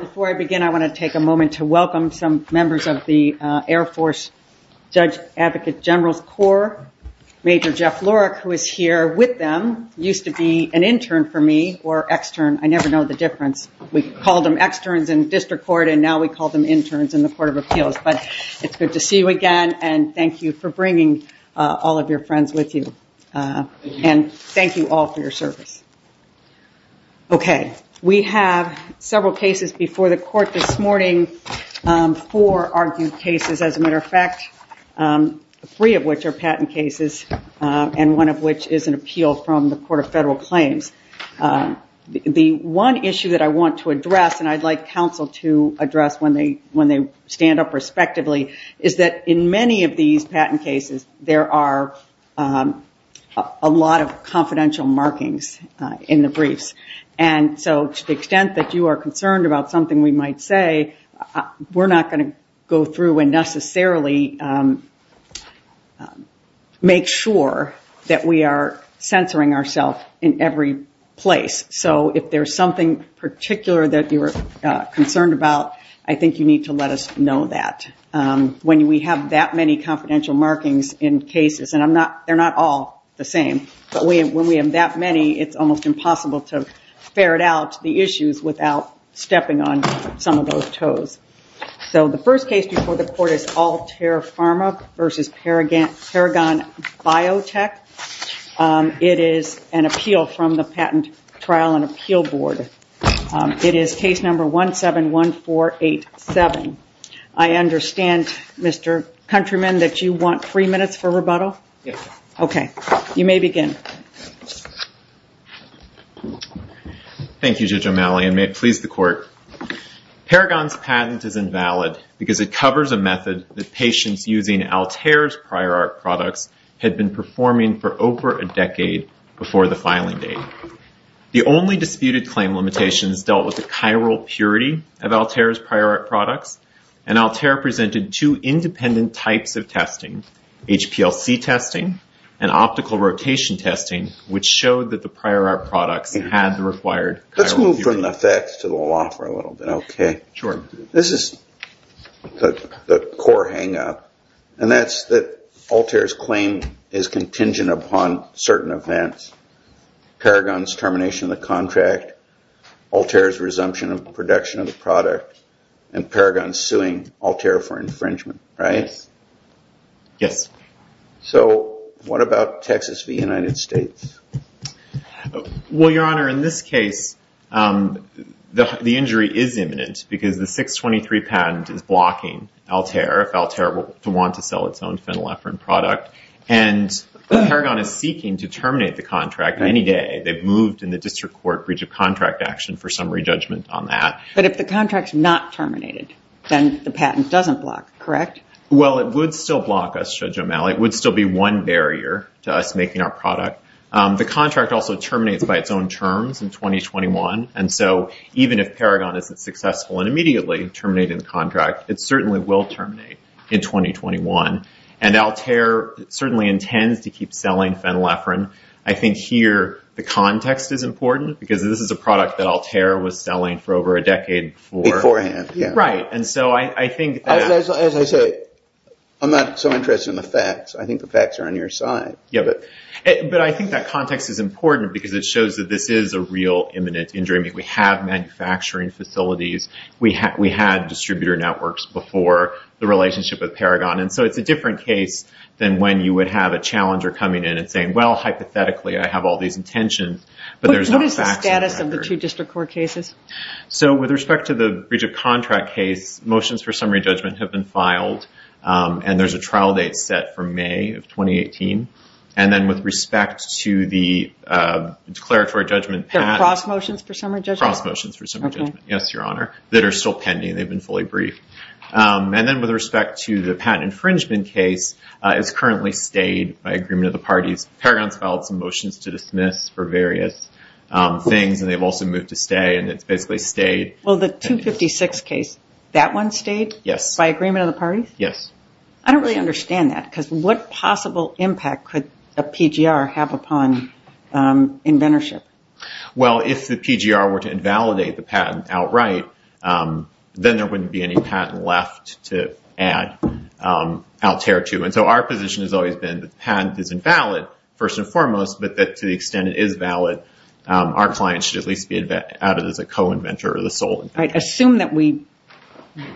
Before I begin, I want to take a moment to welcome some members of the Air Force Judge Advocate General's Corps. Major Jeff Lorick, who is here with them, used to be an intern for me, or extern. I never know the difference. We called them externs in district court, and now we call them interns in the Court of Appeals. But it's good to see you again, and thank you for bringing all of your friends with you. And thank you all for your service. We have several cases before the Court this morning, four argued cases, as a matter of fact, three of which are patent cases, and one of which is an appeal from the Court of Federal Claims. The one issue that I want to address, and I'd like counsel to address when they stand up respectively, is that in many of these patent cases, there are a lot of confidential markings in the briefs, and so to the extent that you are concerned about something we might say, we're not going to go through and necessarily make sure that we are censoring ourselves in every place. So if there's something particular that you're concerned about, I think you need to let us know that. When we have that many confidential markings in cases, and they're not all the same, but when we have that many, it's almost impossible to ferret out the issues without stepping on some of those toes. So the first case before the Court is Altair Pharma versus Paragon Biotech. It is an appeal from the Patent Trial and Appeal Board. It is case number 171487. I understand, Mr. Countryman, that you want three minutes for rebuttal? Yes. Okay. You may begin. Thank you, Judge O'Malley, and may it please the Court. Paragon's patent is invalid because it covers a method that patients using Altair's prior art products had been performing for over a decade before the filing date. The only disputed claim limitations dealt with the chiral purity of Altair's prior art products, and Altair presented two independent types of testing, HPLC testing and optical rotation testing, which showed that the prior art products had the required chiral purity. Let's move from the facts to the law for a little bit, okay? Sure. This is the core hangup, and that's that Altair's claim is contingent upon certain events, Paragon's termination of the contract, Altair's resumption of production of the product, and Paragon suing Altair for infringement, right? Yes. So what about Texas v. United States? Well, Your Honor, in this case, the injury is imminent because the 623 patent is blocking Altair if Altair were to want to sell its own phenylephrine product, and Paragon is determined to terminate the contract any day. They've moved in the district court breach of contract action for summary judgment on that. But if the contract's not terminated, then the patent doesn't block, correct? Well, it would still block us, Judge O'Malley. It would still be one barrier to us making our product. The contract also terminates by its own terms in 2021, and so even if Paragon isn't successful in immediately terminating the contract, it certainly will terminate in 2021, and Altair certainly intends to keep selling phenylephrine. I think here the context is important because this is a product that Altair was selling for over a decade before. Beforehand, yeah. Right. And so I think that... As I say, I'm not so interested in the facts. I think the facts are on your side. Yeah, but I think that context is important because it shows that this is a real imminent injury. We have manufacturing facilities. We had distributor networks before the relationship with Paragon, and so it's a different case than when you would have a challenger coming in and saying, well, hypothetically, I have all these intentions, but there's no facts. What is the status of the two district court cases? So with respect to the breach of contract case, motions for summary judgment have been filed, and there's a trial date set for May of 2018. And then with respect to the declaratory judgment... They're cross motions for summary judgment? Cross motions for summary judgment, yes, Your Honor, that are still pending. They've been fully briefed. And then with respect to the patent infringement case, it's currently stayed by agreement of the parties. Paragon's filed some motions to dismiss for various things, and they've also moved to stay, and it's basically stayed. Well, the 256 case, that one stayed? Yes. By agreement of the parties? Yes. I don't really understand that because what possible impact could a PGR have upon inventorship? Well, if the PGR were to invalidate the patent outright, then there wouldn't be any patent left to add. I'll tear it to you. And so our position has always been that the patent is invalid, first and foremost, but that to the extent it is valid, our client should at least be added as a co-inventor or the sole inventor. Assume that we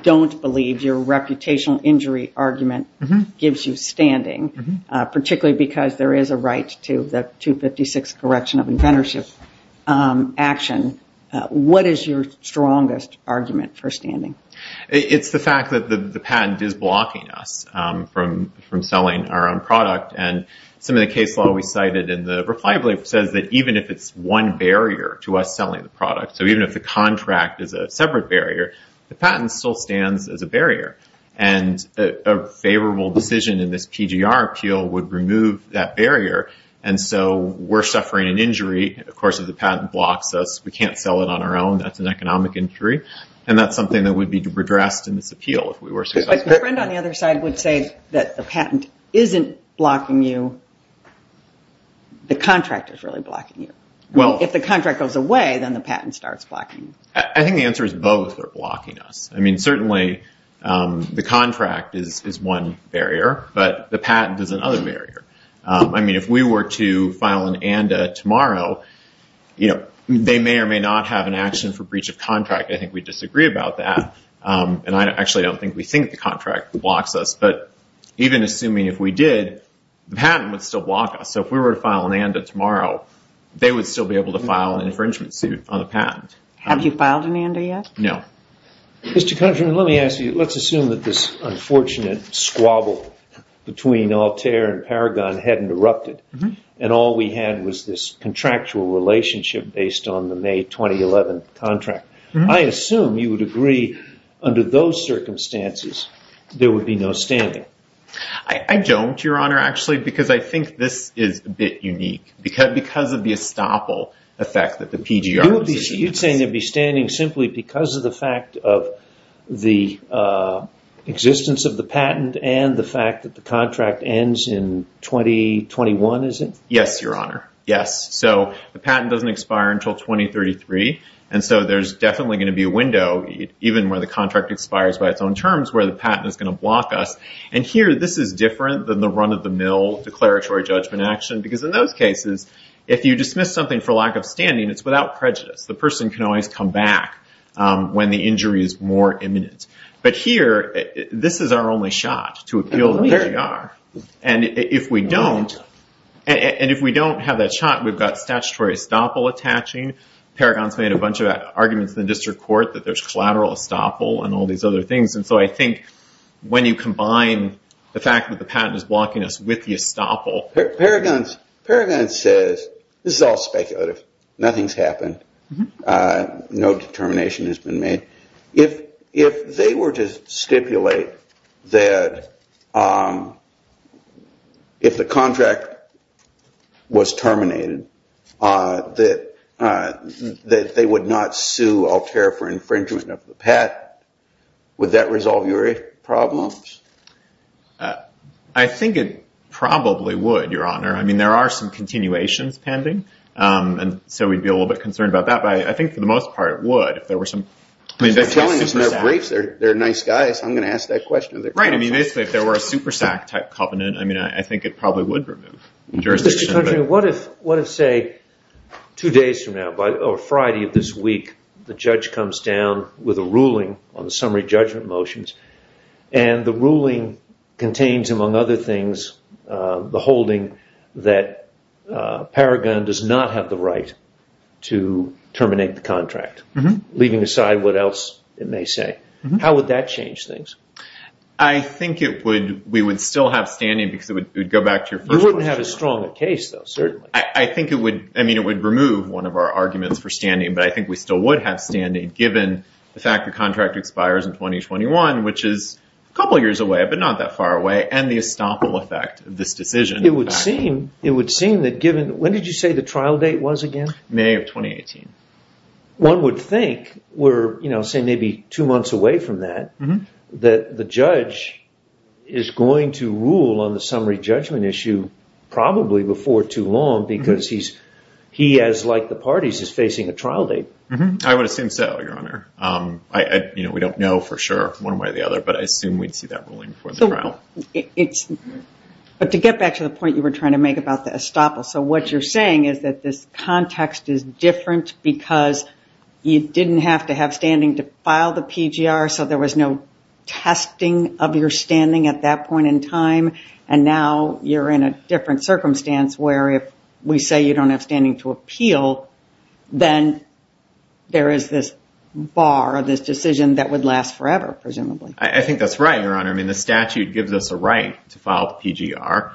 don't believe your reputational injury argument gives you standing, particularly because there is a right to the 256 correction of inventorship action. What is your strongest argument for standing? It's the fact that the patent is blocking us from selling our own product. And some of the case law we cited in the reply belief says that even if it's one barrier to us selling the product, so even if the contract is a separate barrier, the patent still stands as a barrier. And a favorable decision in this PGR appeal would remove that barrier. And so we're suffering an injury. Of course, if the patent blocks us, we can't sell it on our own. That's an economic injury. And that's something that would be addressed in this appeal if we were successful. But my friend on the other side would say that the patent isn't blocking you. The contract is really blocking you. If the contract goes away, then the patent starts blocking you. I think the answer is both are blocking us. Certainly, the contract is one barrier. But the patent is another barrier. If we were to file an ANDA tomorrow, they may or may not have an action for breach of contract. I think we disagree about that. And I actually don't think we think the contract blocks us. But even assuming if we did, the patent would still block us. So if we were to file an ANDA tomorrow, they would still be able to file an infringement suit on the patent. Have you filed an ANDA yet? No. Mr. Countryman, let me ask you. Let's assume that this unfortunate squabble between Altair and Paragon hadn't erupted. And all we had was this contractual relationship based on the May 2011 contract. I assume you would agree, under those circumstances, there would be no standing. I don't, Your Honor, actually, because I think this is a bit unique. Because of the estoppel effect that the PGR was... You'd say there'd be standing simply because of the fact of the existence of the patent and the fact that the contract ends in 2021, is it? Yes, Your Honor. Yes. So the patent doesn't expire until 2033. And so there's definitely going to be a window, even where the contract expires by its own terms, where the patent is going to block us. And here, this is different than the run-of-the-mill declaratory judgment action. Because in those cases, if you dismiss something for lack of standing, it's without prejudice. The person can always come back when the injury is more imminent. But here, this is our only shot to appeal the PGR. And if we don't have that shot, we've got statutory estoppel attaching. Paragon's made a bunch of arguments in the district court that there's collateral estoppel and all these other things. And so I think when you combine the fact that the patent is blocking us with the estoppel... Paragon says, this is all speculative. Nothing's happened. No determination has been made. If they were to stipulate that if the contract was terminated, that they would not sue Altair for infringement of the patent, would that resolve your problems? I think it probably would, Your Honor. I mean, there are some continuations pending. And so we'd be a little bit concerned about that. But I think, for the most part, it would if there were some... They're telling us in their briefs they're nice guys. I'm going to ask that question. Right. I mean, basically, if there were a SuperSAC type covenant, I mean, I think it probably would remove jurisdiction. What if, say, two days from now or Friday of this week, the judge comes down with a ruling on the summary judgment motions, and the ruling contains, among other things, the holding that Paragon does not have the right to terminate the contract, leaving aside what else it may say? How would that change things? I think we would still have standing because it would go back to your first question. We wouldn't have a stronger case, though, certainly. I think it would. I mean, it would remove one of our arguments for standing. But I think we still would have standing, given the fact the contract expires in 2021, which is a couple of years away, but not that far away, and the estoppel effect of this decision. It would seem that given... When did you say the trial date was again? May of 2018. One would think we're, say, maybe two months away from that, that the judge is going to rule on the summary judgment issue probably before too long because he, as like the parties, is facing a trial date. I would assume so, Your Honor. We don't know for sure one way or the other, but I assume we'd see that ruling before the trial. It's... But to get back to the point you were trying to make about the estoppel. So what you're saying is that this context is different because you didn't have to have standing to file the PGR, so there was no testing of your standing at that point in time. And now you're in a different circumstance where if we say you don't have standing to appeal, then there is this bar, this decision that would last forever, presumably. I think that's right, Your Honor. The statute gives us a right to file the PGR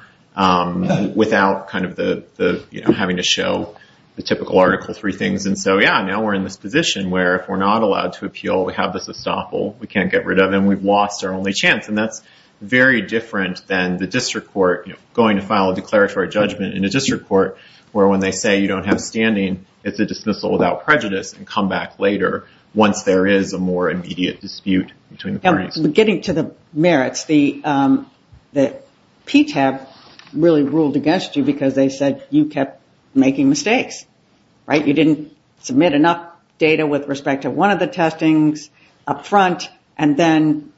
without having to show the typical Article 3 things. So yeah, now we're in this position where if we're not allowed to appeal, we have this estoppel, we can't get rid of, and we've lost our only chance. And that's very different than the district court going to file a declaratory judgment in a district court where when they say you don't have standing, it's a dismissal without prejudice and come back later once there is a more immediate dispute between the parties. Getting to the merits, the PTAB really ruled against you because they said you kept making mistakes, right? You didn't submit enough data with respect to one of the testings up front, and then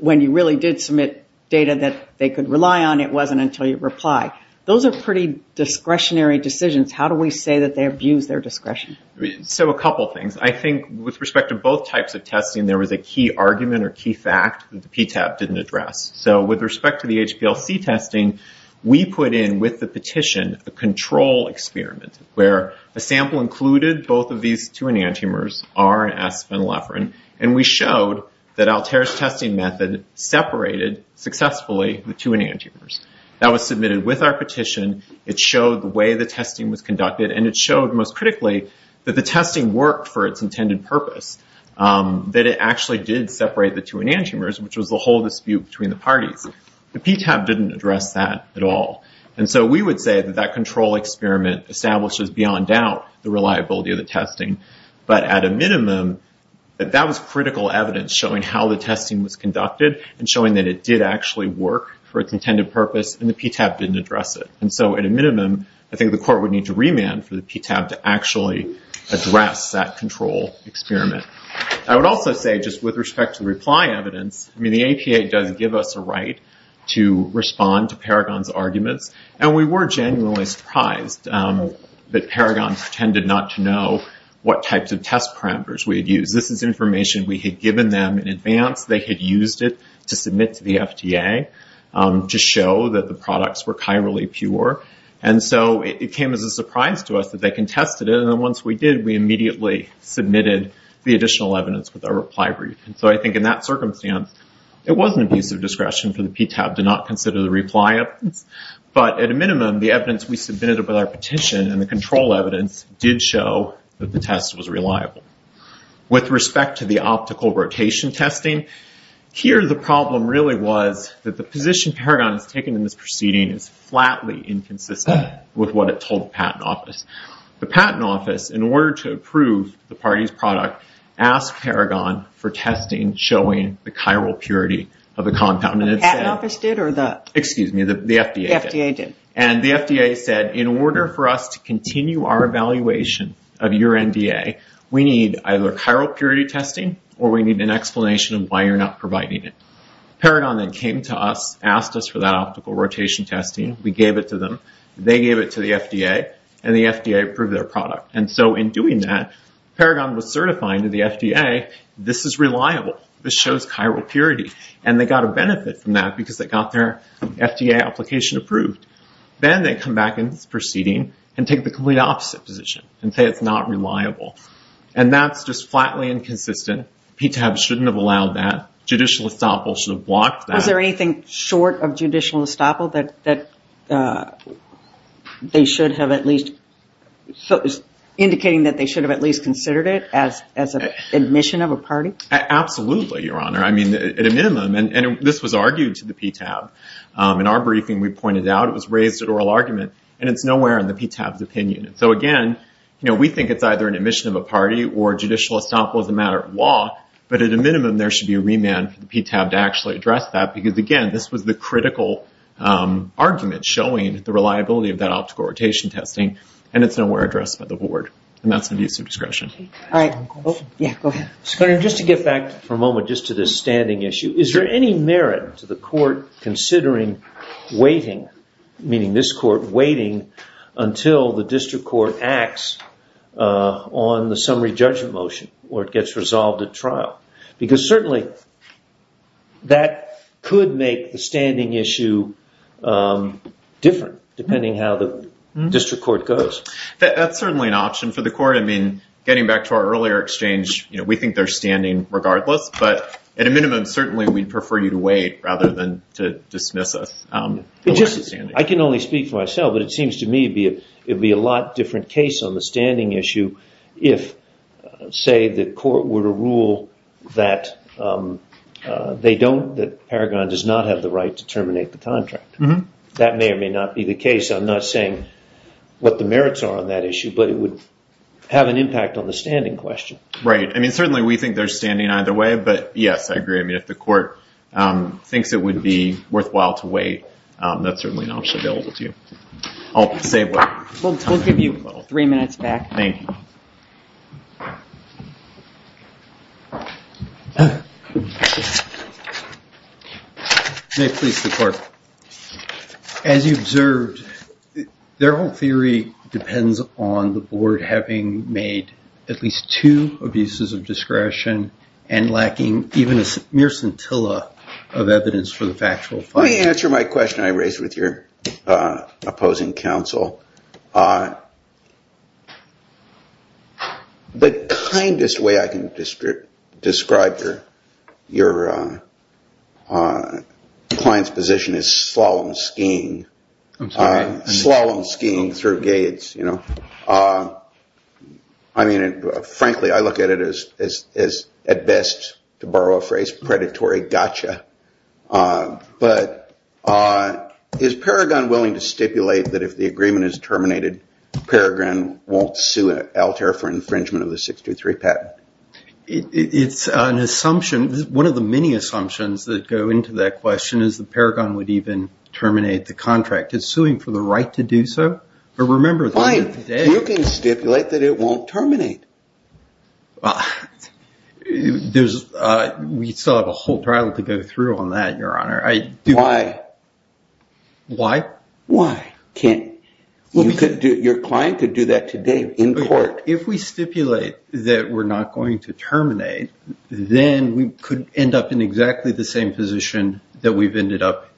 when you really did submit data that they could rely on, it wasn't until you reply. Those are pretty discretionary decisions. How do we say that they abuse their discretion? So a couple of things. I think with respect to both types of testing, there was a key argument or key fact that the PTAB didn't address. So with respect to the HPLC testing, we put in with the petition a control experiment where a sample included both of these two enantiomers, R and S phenylephrine, and we showed that Altair's testing method separated successfully the two enantiomers. That was submitted with our petition. It showed the way the testing was conducted, and it showed most critically that the testing worked for its intended purpose, that it actually did separate the two enantiomers, which was the whole dispute between the parties. The PTAB didn't address that at all. And so we would say that that control experiment establishes beyond doubt the reliability of the testing, but at a minimum, that was critical evidence showing how the testing was conducted and showing that it did actually work for its intended purpose, and the PTAB didn't address it. And so at a minimum, I think the court would need to remand for the PTAB to actually address that control experiment. I would also say, just with respect to the reply evidence, I mean, the APA does give us a right to respond to Paragon's arguments, and we were genuinely surprised that Paragon pretended not to know what types of test parameters we had used. This is information we had given them in advance. They had used it to submit to the FDA to show that the products were chirally pure. And so it came as a surprise to us that they contested it, and then once we did, we immediately submitted the additional evidence with our reply brief. And so I think in that circumstance, it was an abuse of discretion for the PTAB to not consider the reply evidence. But at a minimum, the evidence we submitted with our petition and the control evidence did show that the test was reliable. With respect to the optical rotation testing, here the problem really was that the position Paragon has taken in this proceeding is flatly inconsistent with what it told the patent office. The patent office, in order to approve the party's product, asked Paragon for testing showing the chiral purity of the compound. And the FDA did. And the FDA said, in order for us to continue our evaluation of your NDA, we need either chiral purity testing or we need an explanation of why you're not providing it. Paragon then came to us, asked us for that optical rotation testing. We gave it to them. They gave it to the FDA, and the FDA approved their product. And so in doing that, Paragon was certifying to the FDA, this is reliable. This shows chiral purity. And they got a benefit from that because they got their FDA application approved. Then they come back in this proceeding and take the complete opposite position and say it's not reliable. And that's just flatly inconsistent. PTAB shouldn't have allowed that. Judicial estoppel should have blocked that. Was there anything short of judicial estoppel that they should have at least, indicating that they should have at least considered it as an admission of a party? Absolutely, Your Honor. I mean, at a minimum, and this was argued to the PTAB. In our briefing, we pointed out it was raised at oral argument. And it's nowhere in the PTAB's opinion. So again, we think it's either an admission of a party or judicial estoppel as a matter of law. But at a minimum, there should be a remand for the PTAB to actually address that. Because again, this was the critical argument showing the reliability of that optical rotation testing. And it's nowhere addressed by the board. And that's an abuse of discretion. All right. Yeah, go ahead. Senator, just to get back for a moment just to this standing issue. Is there any merit to the court considering waiting, meaning this court waiting until the district court acts on the summary judgment motion or it gets resolved at trial? Because certainly, that could make the standing issue different, depending how the district court goes. That's certainly an option for the court. I mean, getting back to our earlier exchange, we think they're standing regardless. But at a minimum, certainly, we'd prefer you to wait rather than to dismiss us. I can only speak for myself. But it seems to me it'd be a lot different case on the standing issue if, say, the court were to rule that Paragon does not have the right to terminate the contract. That may or may not be the case. I'm not saying what the merits are on that issue. But it would have an impact on the standing question. Right. I mean, certainly, we think they're standing either way. But yes, I agree. If the court thinks it would be worthwhile to wait, that's certainly an option available to you. I'll save what I have. We'll give you three minutes back. Thank you. May it please the court. As you observed, their whole theory depends on the board having made at least two abuses of discretion and lacking even a mere scintilla of evidence for the factual finding. Let me answer my question I raised with your opposing counsel. The kindest way I can describe your client's position is slalom skiing through gates. I mean, frankly, I look at it as, at best, to borrow a phrase, predatory gotcha. But is Paragon willing to stipulate that if the agreement is terminated, Paragon won't sue Altair for infringement of the 623 patent? It's an assumption. One of the many assumptions that go into that question is that Paragon would even terminate the contract. It's suing for the right to do so. But remember, you can stipulate that it won't terminate. We still have a whole trial to go through on that, Your Honor. Why? Why? Why can't your client do that today in court? If we stipulate that we're not going to terminate, then we could end up in exactly the same position that we've ended up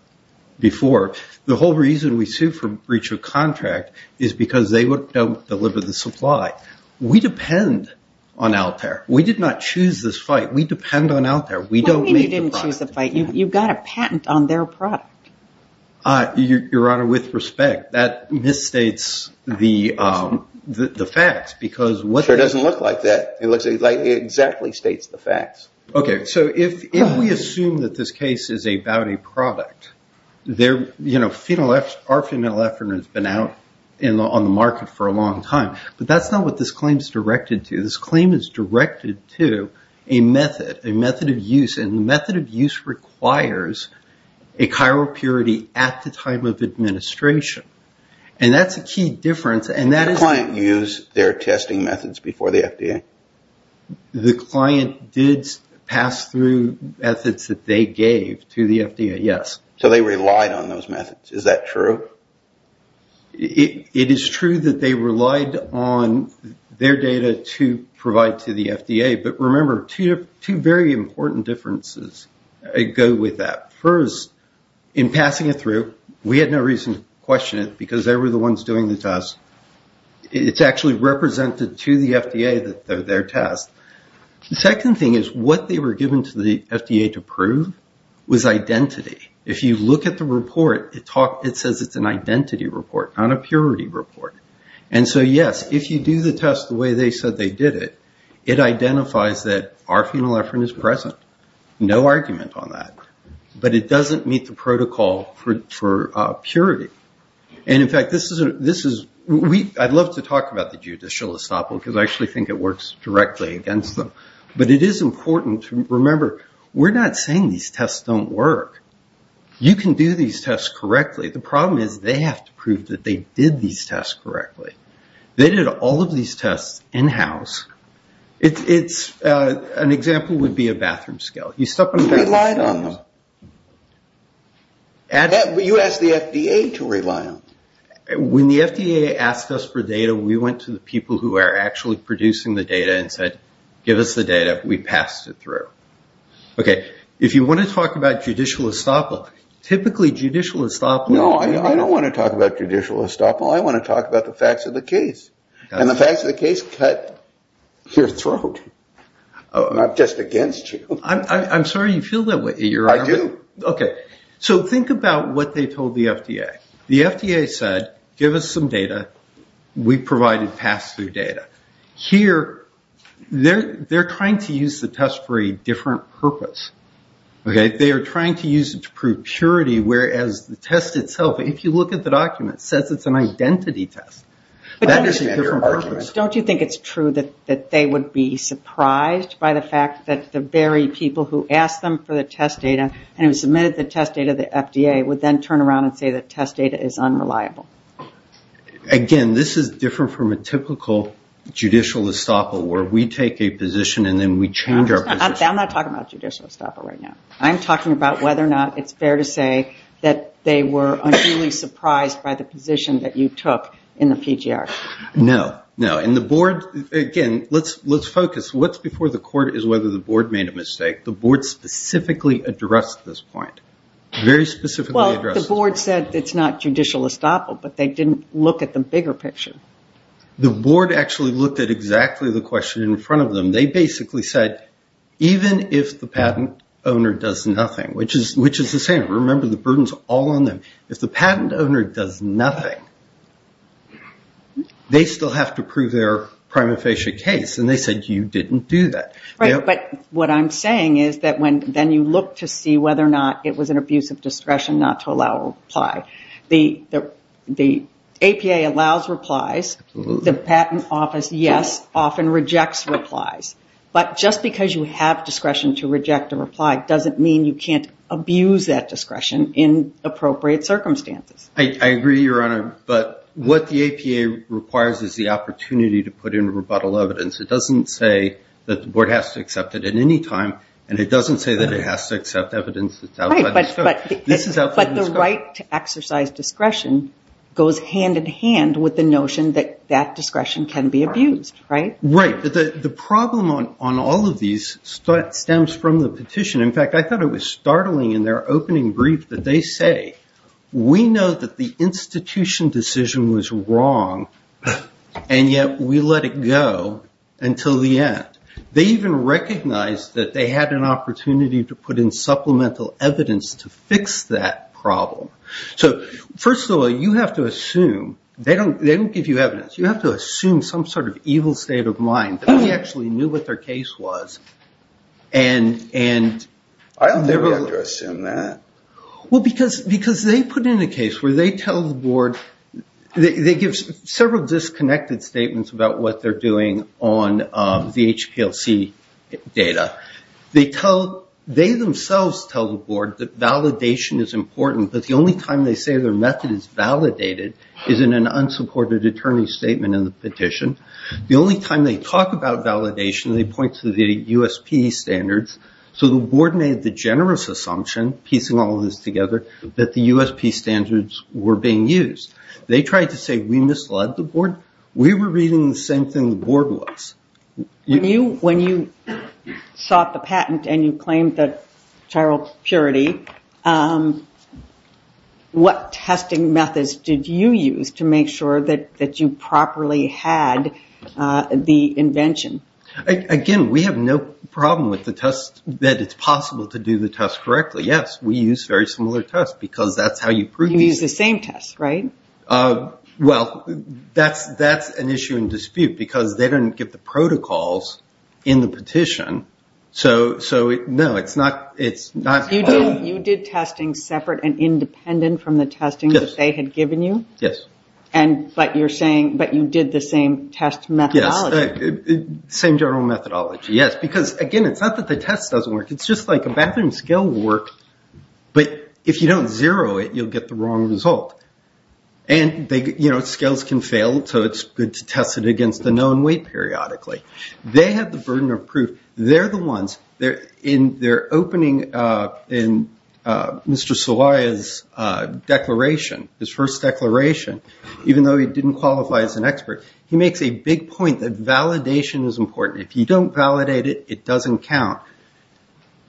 before. The whole reason we sue for breach of contract is because they don't deliver the supply. We depend on Altair. We did not choose this fight. We depend on Altair. We don't make the product. You didn't choose the fight. You got a patent on their product. Your Honor, with respect, that misstates the facts. It doesn't look like that. It looks like it exactly states the facts. So if we assume that this case is about a product, our phenolephrine has been out on the market for a long time. But that's not what this claim is directed to. This claim is directed to a method, a method of use. And the method of use requires a chiral purity at the time of administration. And that's a key difference. Did the client use their testing methods before the FDA? The client did pass through methods that they gave to the FDA, yes. So they relied on those methods. Is that true? It is true that they relied on their data to provide to the FDA. But remember, two very important differences go with that. First, in passing it through, we had no reason to question it because they were the ones doing the test. It's actually represented to the FDA, their test. The second thing is what they were given to the FDA to prove was identity. If you look at the report, it says it's an identity report, not a purity report. And so yes, if you do the test the way they said they did it, it identifies that our phenolephrine is present. No argument on that. But it doesn't meet the protocol for purity. And in fact, I'd love to talk about the judicial estoppel because I actually think it works directly against them. But it is important to remember, we're not saying these tests don't work. You can do these tests correctly. The problem is they have to prove that they did these tests correctly. They did all of these tests in-house. An example would be a bathroom scale. You step on a bathroom scale. You relied on them. But you asked the FDA to rely on them. When the FDA asked us for data, we went to the people who are actually producing the data and said, give us the data. We passed it through. OK. If you want to talk about judicial estoppel, typically judicial estoppel… No, I don't want to talk about judicial estoppel. I want to talk about the facts of the case. And the facts of the case cut your throat, not just against you. I'm sorry you feel that way. I do. OK. So think about what they told the FDA. The FDA said, give us some data. We provided pass-through data. Here, they're trying to use the test for a different purpose. OK. They are trying to use it to prove purity, whereas the test itself, if you look at the document, says it's an identity test. But don't you think it's true that they would be surprised by the fact that the very people who asked them for the test data and who submitted the test data to the FDA would then turn around and say the test data is unreliable? Again, this is different from a typical judicial estoppel, where we take a position and then we change our position. I'm not talking about judicial estoppel right now. I'm talking about whether or not it's fair to say that they were unduly surprised by the position that you took in the PGR. No, no. And the board, again, let's focus. What's before the court is whether the board made a mistake. The board specifically addressed this point. Very specifically addressed this point. Well, the board said it's not judicial estoppel, but they didn't look at the bigger picture. The board actually looked at exactly the question in front of them. They basically said, even if the patent owner does nothing, which is the same. Remember, the burden's all on them. If the patent owner does nothing, they still have to prove their prima facie case. And they said, you didn't do that. But what I'm saying is that then you look to see whether or not it was an abuse of discretion not to allow a reply. The APA allows replies. The patent office, yes, often rejects replies. But just because you have discretion to reject a reply doesn't mean you can't abuse that discretion in appropriate circumstances. I agree, Your Honor. But what the APA requires is the opportunity to put in rebuttal evidence. It doesn't say that the board has to accept it at any time. And it doesn't say that it has to accept evidence that's outside the scope. Right, but the right to exercise discretion goes hand in hand with the notion that that discretion can be abused, right? Right. But the problem on all of these stems from the petition. In fact, I thought it was startling in their opening brief that they say, we know that the institution decision was wrong, and yet we let it go until the end. They even recognized that they had an opportunity to put in supplemental evidence to fix that problem. So first of all, you have to assume they don't give you evidence. You have to assume some sort of evil state of mind that they actually knew what their case was. I don't think we have to assume that. Well, because they put in a case where they tell the board, they give several disconnected statements about what they're doing on the HPLC data. They themselves tell the board that validation is important, but the only time they say their method is validated is in an unsupported attorney statement in the petition. The only time they talk about validation, they point to the USP standards. So the board made the generous assumption, piecing all of this together, that the USP standards were being used. They tried to say we misled the board. We were reading the same thing the board was. When you sought the patent and you claimed that chiral purity, what testing methods did you use to make sure that you properly had the invention? Again, we have no problem with the test that it's possible to do the test correctly. Yes, we use very similar tests because that's how you prove it. You use the same tests, right? Well, that's an issue in dispute because they didn't get the protocols in the petition. You did testing separate and independent from the testing that they had given you? Yes. But you're saying, but you did the same test methodology. Same general methodology, yes. Because again, it's not that the test doesn't work. It's just like a bathroom scale work. But if you don't zero it, you'll get the wrong result. And scales can fail. So it's good to test it against a known weight periodically. They have the burden of proof. They're the ones. In their opening in Mr. Sawai's declaration, his first declaration, even though he didn't qualify as an expert, he makes a big point that validation is important. If you don't validate it, it doesn't count.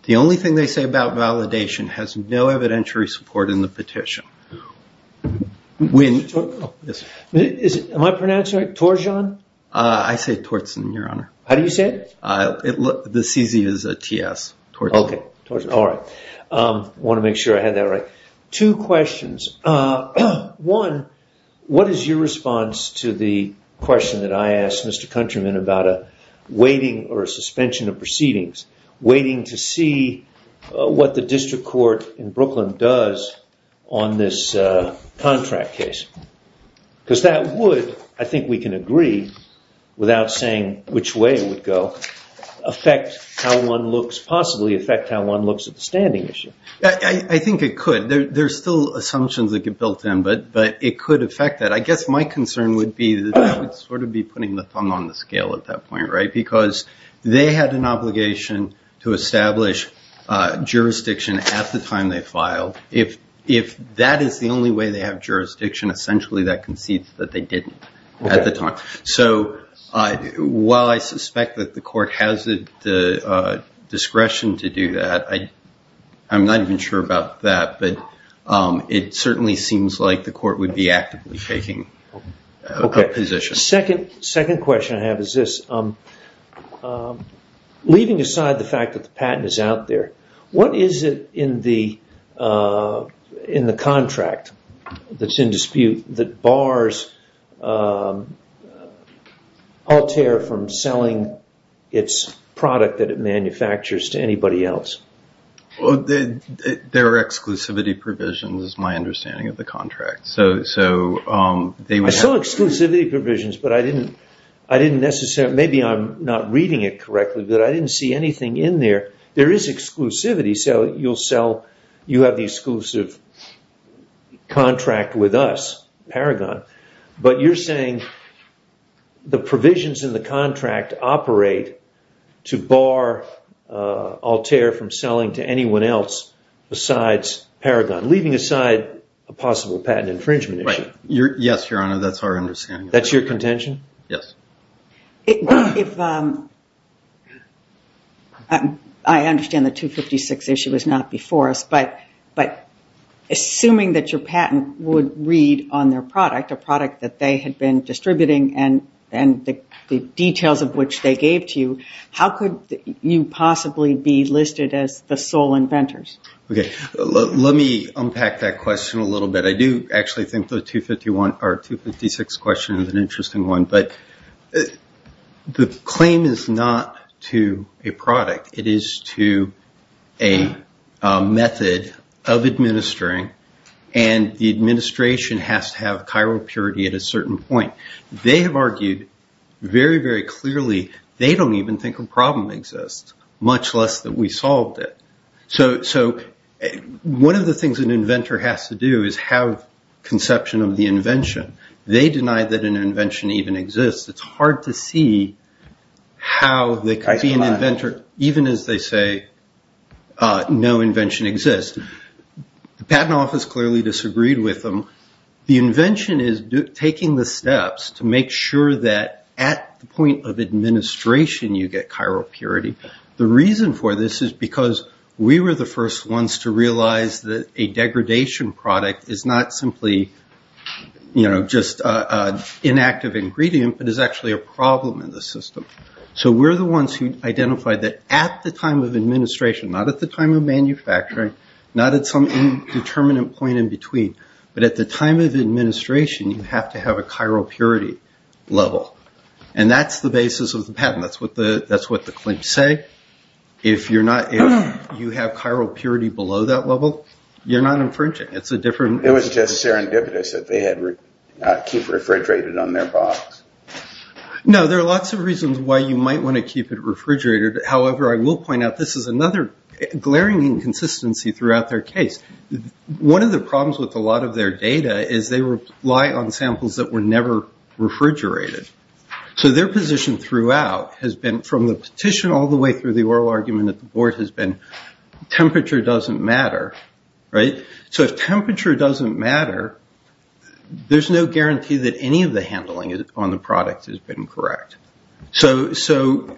The only thing they say about validation has no evidentiary support in the petition. Am I pronouncing it right? Torzhan? I say Torzhan, your honor. How do you say it? The CZ is a TS. All right. I want to make sure I had that right. Two questions. One, what is your response to the question that I asked Mr. Countryman about a weighting or a suspension of proceedings? Waiting to see what the district court in Brooklyn does on this contract case. Because that would, I think we can agree, without saying which way it would go, affect how one looks, possibly affect how one looks at the standing issue. I think it could. There's still assumptions that get built in, but it could affect that. I guess my concern would be that I would sort of be putting the thumb on the scale at that point, right? Because they had an obligation to establish jurisdiction at the time they filed. If that is the only way they have jurisdiction, essentially that concedes that they didn't at the time. So while I suspect that the court has the discretion to do that, I'm not even sure about that. But it certainly seems like the court would be actively taking a position. Second question I have is this. Leaving aside the fact that the patent is out there, what is it in the contract that's in dispute that bars Altair from selling its product that it manufactures to anybody else? Well, there are exclusivity provisions, is my understanding of the contract. I saw exclusivity provisions, but I didn't necessarily, maybe I'm not reading it correctly, but I didn't see anything in there. There is exclusivity, so you'll sell, you have the exclusive contract with us, Paragon, but you're saying the provisions in the contract operate to bar Altair from selling to anyone else besides Paragon, leaving aside a possible patent infringement issue. Yes, Your Honor, that's our understanding. That's your contention? Yes. I understand the 256 issue was not before us, but assuming that your patent would read on their product, a product that they had been distributing and the details of which they gave to you, how could you possibly be listed as the sole inventors? Okay, let me unpack that question a little bit. I do actually think the 256 question is an interesting one, but the claim is not to a purity at a certain point. They have argued very, very clearly they don't even think a problem exists, much less that we solved it. One of the things an inventor has to do is have conception of the invention. They deny that an invention even exists. It's hard to see how they could be an inventor even as they say no invention exists. The patent office clearly disagreed with them. The invention is taking the steps to make sure that at the point of administration you get chiral purity. The reason for this is because we were the first ones to realize that a degradation product is not simply just an inactive ingredient, but is actually a problem in the system. We're the ones who identified that at the time of administration, not at the time of administration, you have to have a chiral purity level. That's the basis of the patent. That's what the claims say. If you have chiral purity below that level, you're not infringing. It's a different... It was just serendipitous that they had keep refrigerated on their box. No, there are lots of reasons why you might want to keep it refrigerated. However, I will point out this is another glaring inconsistency throughout their case. One of the problems with a lot of their data is they rely on samples that were never refrigerated. Their position throughout has been from the petition all the way through the oral argument that the board has been temperature doesn't matter. If temperature doesn't matter, there's no guarantee that any of the handling on the product has been correct. The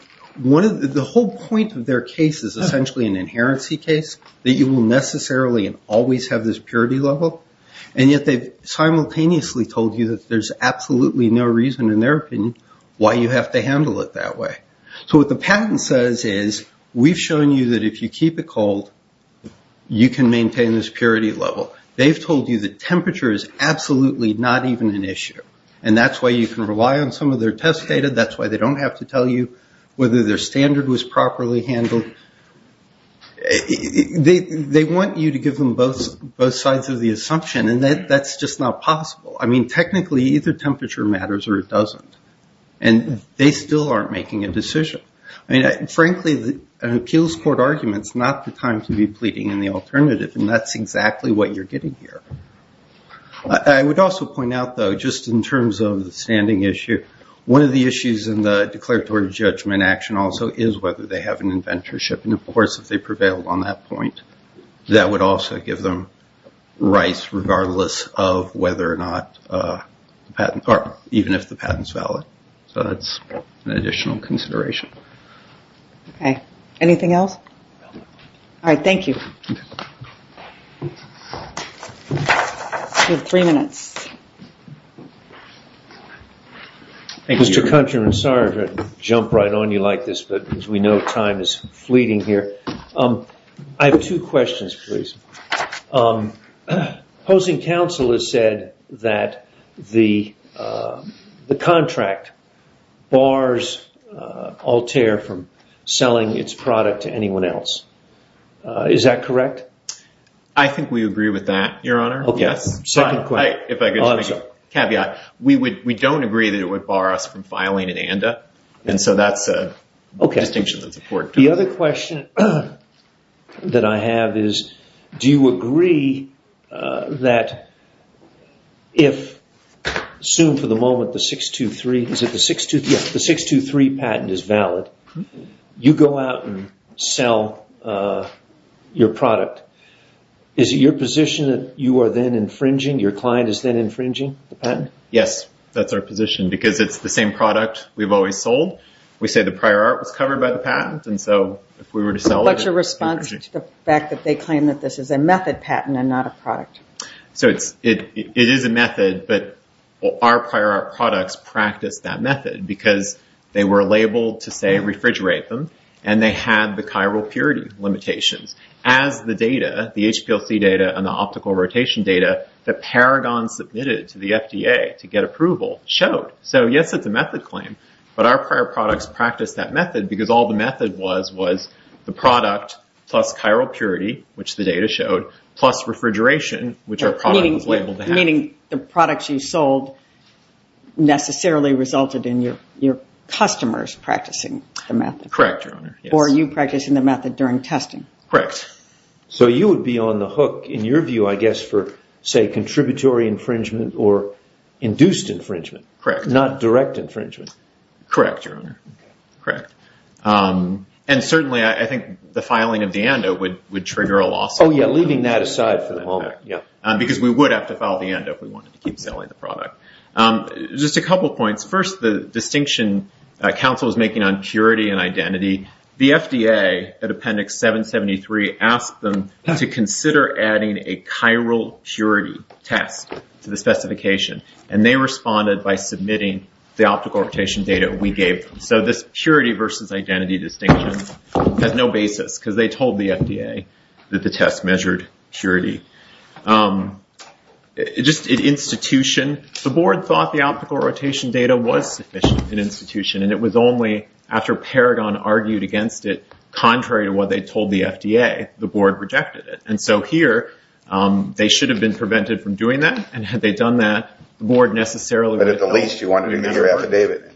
whole point of their case is essentially an inherency case that you will necessarily always have this purity level, and yet they've simultaneously told you that there's absolutely no reason in their opinion why you have to handle it that way. So what the patent says is we've shown you that if you keep it cold, you can maintain this purity level. They've told you that temperature is absolutely not even an issue, and that's why you can rely on some of their test data. That's why they don't have to tell you whether their standard was properly handled. And they want you to give them both sides of the assumption, and that's just not possible. I mean, technically, either temperature matters or it doesn't. And they still aren't making a decision. I mean, frankly, an appeals court argument is not the time to be pleading in the alternative, and that's exactly what you're getting here. I would also point out, though, just in terms of the standing issue, one of the issues in the declaratory judgment action also is whether they have an inventorship. And, of course, if they prevail on that point, that would also give them rights regardless of whether or not the patent, or even if the patent is valid. So that's an additional consideration. Okay. Anything else? All right. Thank you. You have three minutes. Thank you. Mr. Countryman, sorry to jump right on you like this, but as we know, time is fleeting here. I have two questions, please. Opposing counsel has said that the contract bars Altair from selling its product to anyone else. Is that correct? I think we agree with that, Your Honor. Yes. Second question. If I could make a caveat, we don't agree that it would bar us from filing an ANDA, and so that's a distinction that's important. The other question that I have is, do you agree that if, assume for the moment, the 623 patent is valid, you go out and sell your product, is it your position that you are then infringing your client is then infringing the patent? Yes. That's our position, because it's the same product we've always sold. We say the prior art was covered by the patent, and so if we were to sell it— What's your response to the fact that they claim that this is a method patent and not a product? So it is a method, but our prior art products practiced that method, because they were labeled to, say, refrigerate them, and they had the chiral purity limitations. As the data, the HPLC data and the optical rotation data that Paragon submitted to the FDA to get approval showed. So yes, it's a method claim, but our prior products practiced that method, because all the method was was the product plus chiral purity, which the data showed, plus refrigeration, which our product was labeled to have. Meaning the products you sold necessarily resulted in your customers practicing the method. Correct, Your Honor. Or you practicing the method during testing. Correct. So you would be on the hook, in your view, I guess, for, say, contributory infringement or induced infringement. Correct. Not direct infringement. Correct, Your Honor. Correct. And certainly, I think the filing of the ANDO would trigger a lawsuit. Oh, yeah. Leaving that aside for the moment, yeah. Because we would have to file the ANDO if we wanted to keep selling the product. Just a couple points. First, the distinction counsel was making on purity and identity. The FDA, at Appendix 773, asked them to consider adding a chiral purity test to the specification, and they responded by submitting the optical rotation data we gave them. So this purity versus identity distinction has no basis, because they told the FDA that the test measured purity. Just institution, the board thought the optical rotation data was sufficient in institution, and it was only after Paragon argued against it, contrary to what they told the FDA, the board rejected it. And so here, they should have been prevented from doing that, and had they done that, the board necessarily would have... But at the least, you wanted to hear affidavit.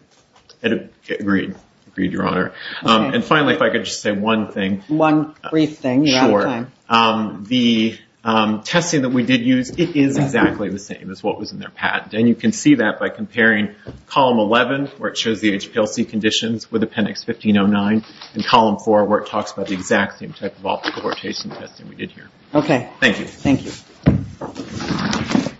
Agreed. Agreed, Your Honor. And finally, if I could just say one thing. One brief thing. The testing that we did use, it is exactly the same as what was in their patent. And you can see that by comparing Column 11, where it shows the HPLC conditions with Appendix 1509, and Column 4, where it talks about the exact same type of optical rotation testing we did here. Okay. Thank you. Thank you.